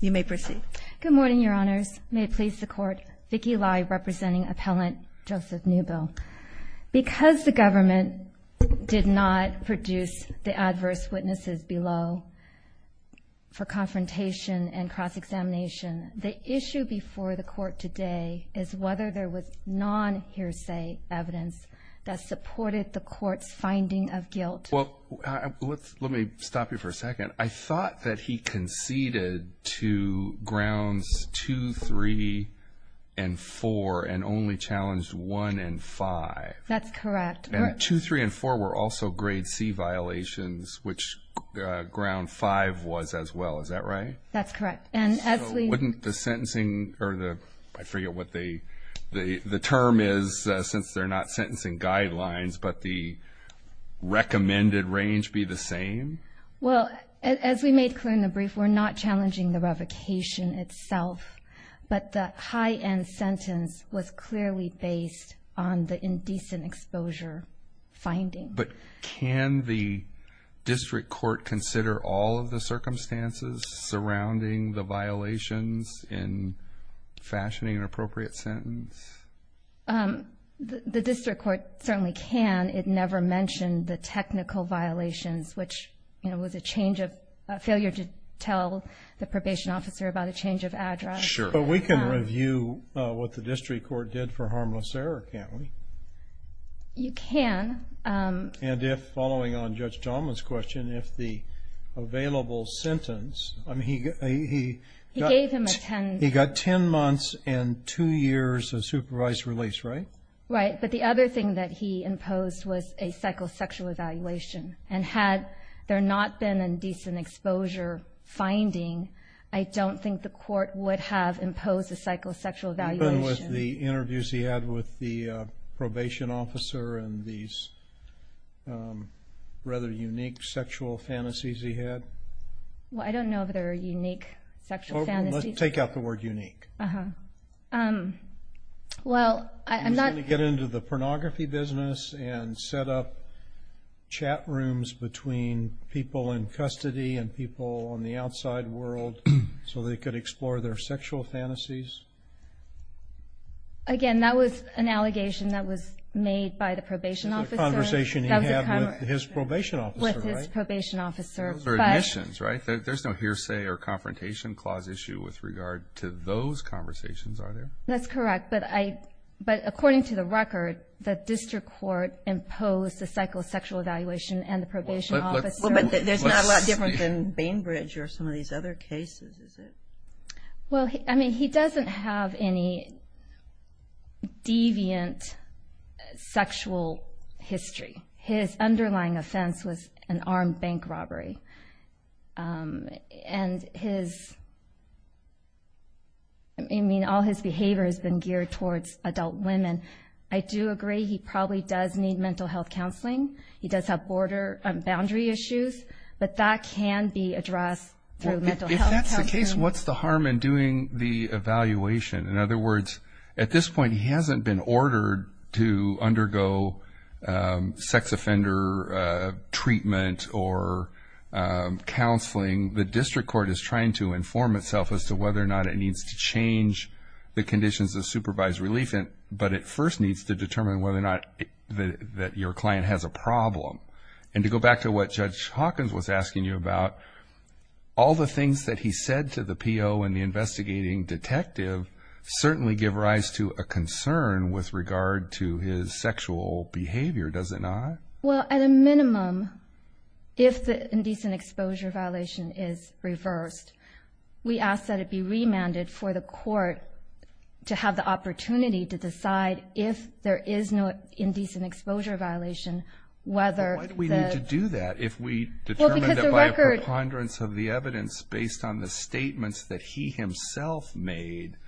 You may proceed. Good morning, Your Honors. May it please the Court, Vicki Lai representing Appellant Joseph Newbill. Because the government did not produce the adverse witnesses below for confrontation and cross-examination, the issue before the Court today is whether there was non-hearsay evidence that supported the Court's finding of guilt. Well, let me stop you for a second. I thought that he conceded to Grounds 2, 3, and 4 and only challenged 1 and 5. That's correct. And 2, 3, and 4 were also Grade C violations, which Ground 5 was as well. Is that right? That's correct. And as we Wouldn't the sentencing or the, I forget what the term is, since they're not sentencing guidelines, but the recommended range be the same? Well, as we made clear in the brief, we're not challenging the revocation itself, but the high-end sentence was clearly based on the indecent exposure finding. But can the district court consider all of the circumstances surrounding the violations in fashioning an appropriate sentence? The district court certainly can. It never mentioned the technical violations, which was a change of, a failure to tell the probation officer about a change of address. But we can review what the district court did for harmless error, can't we? You can. And if, following on Judge Donovan's question, if the available sentence, I mean, he He gave him a 10 He got 10 months and 2 years of supervised release, right? Right. But the other thing that he imposed was a psychosexual evaluation. And had there not been an indecent exposure finding, I don't think the court would have imposed a psychosexual evaluation. What happened with the interviews he had with the probation officer and these rather unique sexual fantasies he had? Well, I don't know if they were unique sexual fantasies. Let's take out the word unique. Uh-huh. Well, I'm not He was going to get into the pornography business and set up chat rooms between people in custody and people on the outside world so they could explore their sexual fantasies. Again, that was an allegation that was made by the probation officer. That was a conversation he had with his probation officer, right? With his probation officer. Those are admissions, right? There's no hearsay or confrontation clause issue with regard to those conversations, are there? That's correct. But according to the record, the district court imposed a psychosexual evaluation and the probation officer Well, but there's not a lot different than Bainbridge or some of these other cases, is there? Well, I mean, he doesn't have any deviant sexual history. His underlying offense was an armed bank robbery. And his, I mean, all his behavior has been geared towards adult women. I do agree he probably does need mental health counseling. He does have border and boundary issues. But that can be addressed through mental health counseling. If that's the case, what's the harm in doing the evaluation? In other words, at this point, he hasn't been ordered to undergo sex offender treatment or counseling. The district court is trying to inform itself as to whether or not it needs to change the conditions of supervised relief. But it first needs to determine whether or not that your client has a problem. And to go back to what Judge Hawkins was asking you about, all the things that he said to the PO and the investigating detective certainly give rise to a concern with regard to his sexual behavior, does it not? Well, at a minimum, if the indecent exposure violation is reversed, we ask that it be remanded for the court to have the opportunity to decide if there is no indecent exposure violation whether the- Why do we need to do that if we determine that by a preponderance of the evidence based on the statements that he himself made,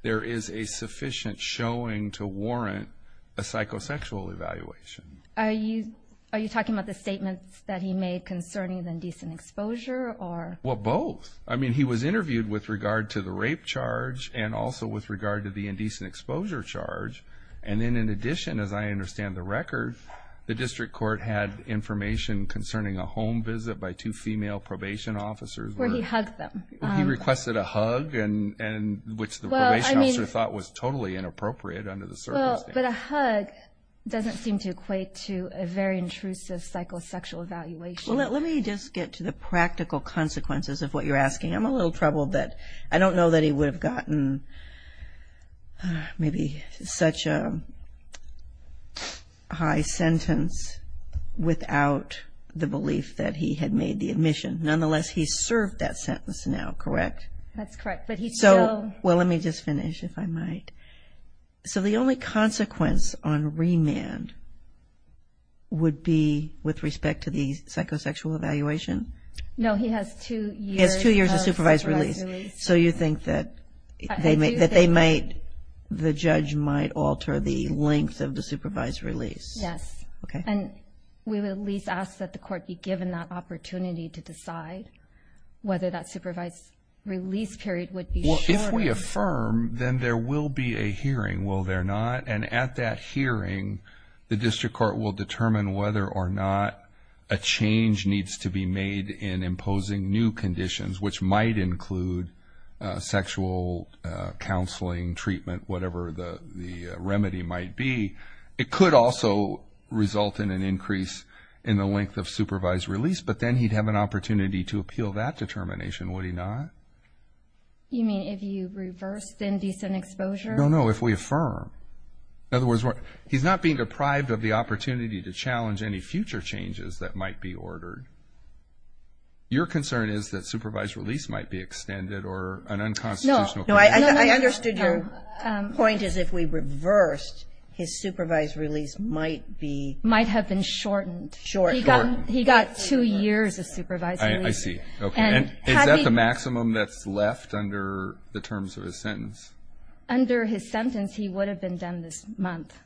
there is a sufficient showing to warrant a psychosexual evaluation? Are you talking about the statements that he made concerning the indecent exposure or- Well, both. I mean, he was interviewed with regard to the rape charge and also with regard to the indecent exposure charge. And then in addition, as I understand the record, the district court had information concerning a home visit by two female probation officers- Where he hugged them. He requested a hug, which the probation officer thought was totally inappropriate under the circumstances. Well, but a hug doesn't seem to equate to a very intrusive psychosexual evaluation. Well, let me just get to the practical consequences of what you're asking. I'm a little troubled that I don't know that he would have gotten maybe such a high sentence without the belief that he had made the admission. Nonetheless, he served that sentence now, correct? That's correct, but he still- Well, let me just finish, if I might. So the only consequence on remand would be with respect to the psychosexual evaluation? No, he has two years of supervised release. So you think that the judge might alter the length of the supervised release? Yes. Okay. And we would at least ask that the court be given that opportunity to decide whether that supervised release period would be short- If we affirm, then there will be a hearing, will there not? And at that hearing, the district court will determine whether or not a change needs to be made in imposing new conditions, which might include sexual counseling, treatment, whatever the remedy might be. It could also result in an increase in the length of supervised release, but then he'd have an opportunity to appeal that determination, would he not? You mean if you reverse the indecent exposure? No, no, if we affirm. In other words, he's not being deprived of the opportunity to challenge any future changes that might be ordered. Your concern is that supervised release might be extended or an unconstitutional- No, no, I understood your point is if we reversed, his supervised release might be- Might have been shortened. Shortened. He got two years of supervised release. I see. Okay, and is that the maximum that's left under the terms of his sentence? Under his sentence, he would have been done this month.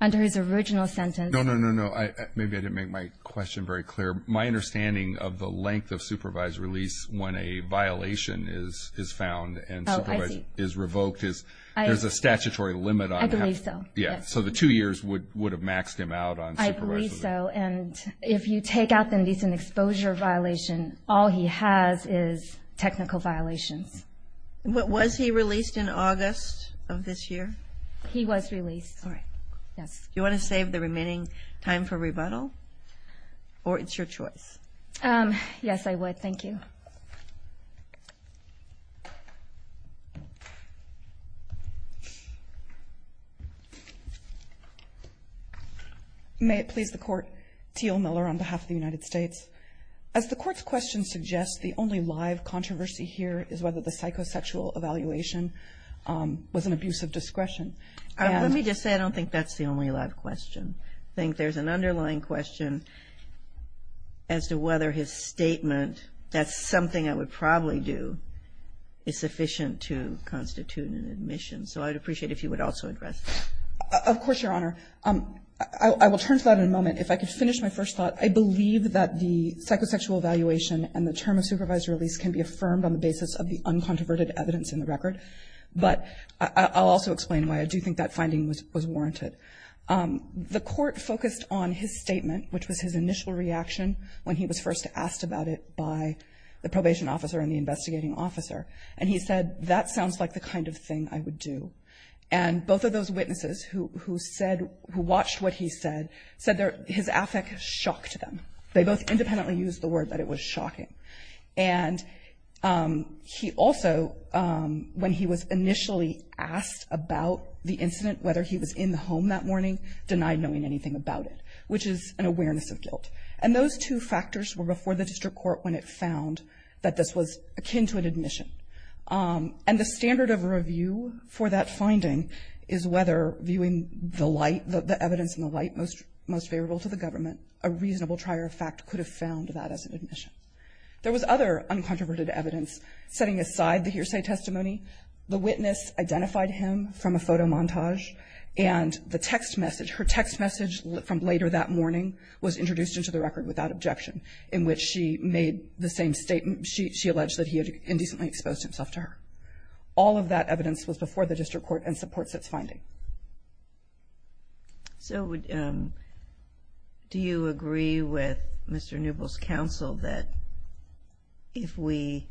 Under his original sentence- No, no, no, no, maybe I didn't make my question very clear. My understanding of the length of supervised release when a violation is found- Oh, I see. And is revoked is there's a statutory limit on how- I believe so, yes. Yeah, so the two years would have maxed him out on supervised release. I believe so, and if you take out the indecent exposure violation, all he has is technical violations. Was he released in August of this year? He was released, yes. Do you want to save the remaining time for rebuttal, or it's your choice? Yes, I would. Thank you. May it please the Court. Teal Miller on behalf of the United States. As the Court's question suggests, the only live controversy here is whether the psychosexual evaluation was an abuse of discretion. Let me just say, I don't think that's the only live question. I think there's an underlying question as to whether his statement, that's something I would probably do, is sufficient to constitute an admission. So I'd appreciate if you would also address that. Of course, Your Honor. I will turn to that in a moment. If I could finish my first thought. I believe that the psychosexual evaluation and the term of supervised release can be affirmed on the basis of the uncontroverted evidence in the record, but I'll also explain why I do think that finding was warranted. The Court focused on his statement, which was his initial reaction when he was first asked about it by the probation officer and the investigating officer. And he said, that sounds like the kind of thing I would do. And both of those witnesses who said, who watched what he said, said his affect shocked them. They both independently used the word that it was shocking. And he also, when he was initially asked about the incident, whether he was in the home that morning, denied knowing anything about it, which is an awareness of guilt. And those two factors were before the district court when it found that this was akin to an admission. And the standard of review for that finding is whether, viewing the light, the evidence in the light most favorable to the government, a reasonable trier of fact could have found that as an admission. There was other uncontroverted evidence. Setting aside the hearsay testimony, the witness identified him from a photo montage, and the text message. Her text message from later that morning was introduced into the record without objection, in which she made the same statement. She alleged that he had indecently exposed himself to her. All of that evidence was before the district court and supports its finding. Kagan. So do you agree with Mr. Newbell's counsel that if we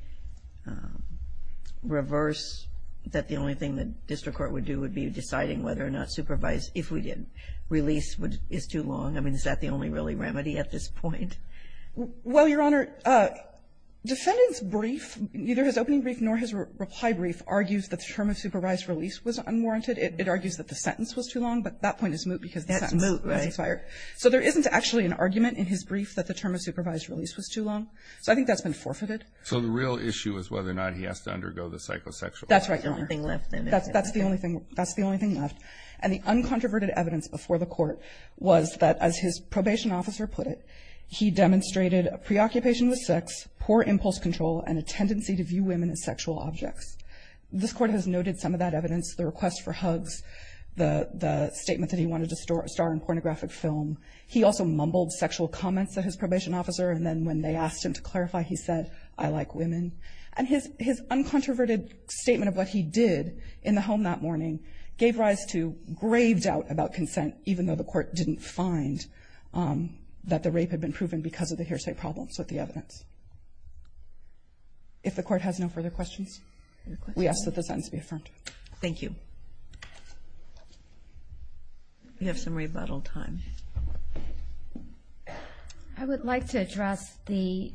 reverse that the only thing the district court would do would be deciding whether or not supervised, if we did, release is too long? I mean, is that the only really remedy at this point? Well, Your Honor, defendant's brief, neither his opening brief nor his reply brief, argues that the term of supervised release was unwarranted. It argues that the sentence was too long, but that point is moot because the sentence That's moot, right. So there isn't actually an argument in his brief that the term of supervised release was too long. So I think that's been forfeited. So the real issue is whether or not he has to undergo the psychosexual. That's right, Your Honor. That's the only thing left. That's the only thing left. And the uncontroverted evidence before the court was that, as his probation officer put it, he demonstrated a preoccupation with sex, poor impulse control, and a tendency to view women as sexual objects. This court has noted some of that evidence, the request for hugs, the statement that he wanted to star in a pornographic film. He also mumbled sexual comments at his probation officer, and then when they asked him to clarify, he said, I like women. And his uncontroverted statement of what he did in the home that morning gave rise to grave doubt about consent, even though the court didn't find that the rape had been proven because of the hearsay problems with the evidence. If the court has no further questions. We ask that the sentence be affirmed. Thank you. We have some rebuttal time. I would like to address the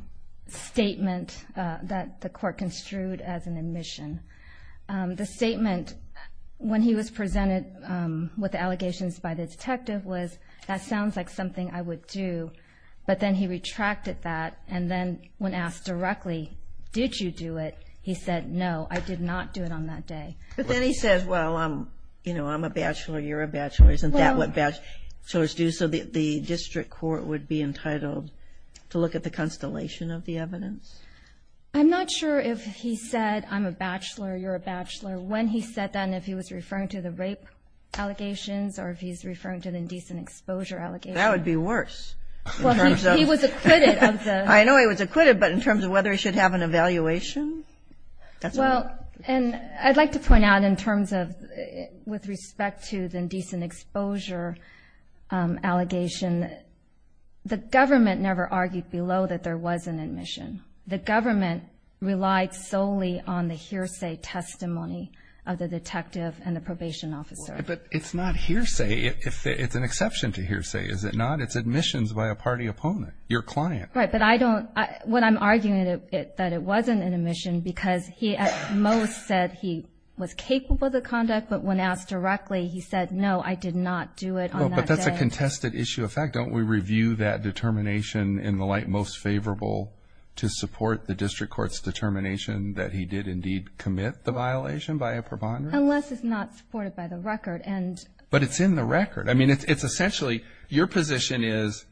statement that the court construed as an admission. The statement when he was presented with allegations by the detective was, that sounds like something I would do. But then he retracted that, and then when asked directly, did you do it, he said, no, I did not do it on that day. But then he says, well, you know, I'm a bachelor, you're a bachelor. Isn't that what bachelors do? So the district court would be entitled to look at the constellation of the evidence? I'm not sure if he said, I'm a bachelor, you're a bachelor, when he said that, and if he was referring to the rape allegations, or if he's referring to the indecent exposure allegations. That would be worse. Well, he was acquitted of those. I know he was acquitted, but in terms of whether he should have an evaluation? Well, and I'd like to point out in terms of with respect to the indecent exposure allegation, the government never argued below that there was an admission. The government relied solely on the hearsay testimony of the detective and the probation officer. But it's not hearsay. It's an exception to hearsay, is it not? It's admissions by a party opponent, your client. Right. But I don't – what I'm arguing is that it wasn't an admission because he at most said he was capable of the conduct, but when asked directly, he said, no, I did not do it on that day. Well, but that's a contested issue of fact. Don't we review that determination in the light most favorable to support the district court's determination that he did indeed commit the violation by a preponderance? Unless it's not supported by the record. But it's in the record. I mean, it's essentially your position is,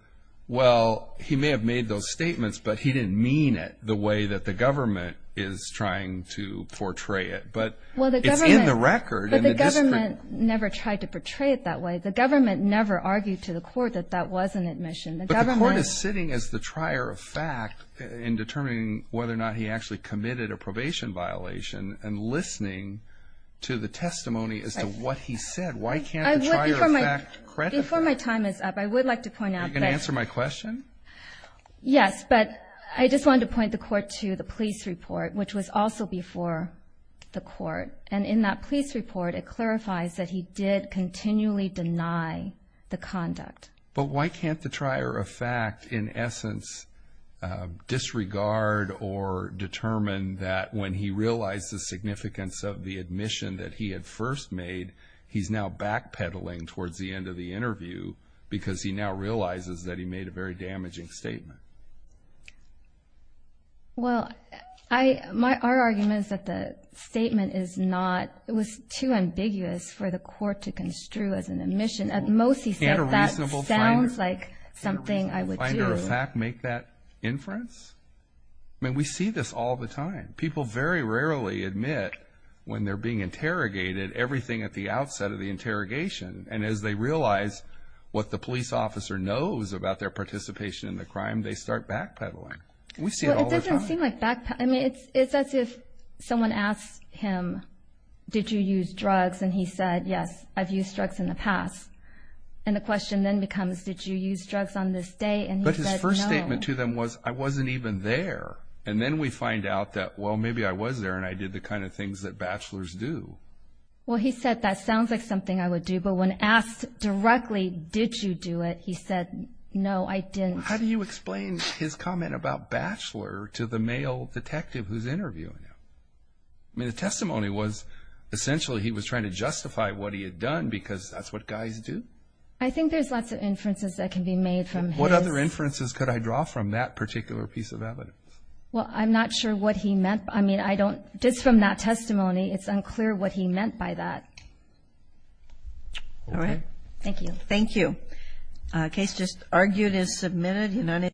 well, he may have made those statements, but he didn't mean it the way that the government is trying to portray it. But it's in the record. But the government never tried to portray it that way. The government never argued to the court that that was an admission. But the court is sitting as the trier of fact in determining whether or not he actually committed a probation violation and listening to the testimony as to what he said. Why can't the trier of fact credit that? Before my time is up, I would like to point out that. Are you going to answer my question? Yes. But I just wanted to point the court to the police report, which was also before the court. And in that police report, it clarifies that he did continually deny the conduct. But why can't the trier of fact in essence disregard or determine that when he realized the significance of the admission that he had first made, he's now backpedaling towards the end of the interview because he now realizes that he made a very damaging statement? Well, our argument is that the statement was too ambiguous for the court to construe as an admission. At most, he said, that sounds like something I would do. Can a reasonable finder of fact make that inference? I mean, we see this all the time. People very rarely admit when they're being interrogated everything at the outset of the interrogation. And as they realize what the police officer knows about their participation in the crime, they start backpedaling. We see it all the time. Well, it doesn't seem like backpedaling. I mean, it's as if someone asks him, did you use drugs? And he said, yes, I've used drugs in the past. And the question then becomes, did you use drugs on this day? And he said, no. But his first statement to them was, I wasn't even there. And then we find out that, well, maybe I was there and I did the kind of things that bachelors do. Well, he said, that sounds like something I would do. But when asked directly, did you do it? He said, no, I didn't. How do you explain his comment about bachelor to the male detective who's interviewing him? I mean, the testimony was essentially he was trying to justify what he had done because that's what guys do. I think there's lots of inferences that can be made from his. What other inferences could I draw from that particular piece of evidence? Well, I'm not sure what he meant. I mean, just from that testimony, it's unclear what he meant by that. All right. Thank you. Thank you. The case just argued is submitted.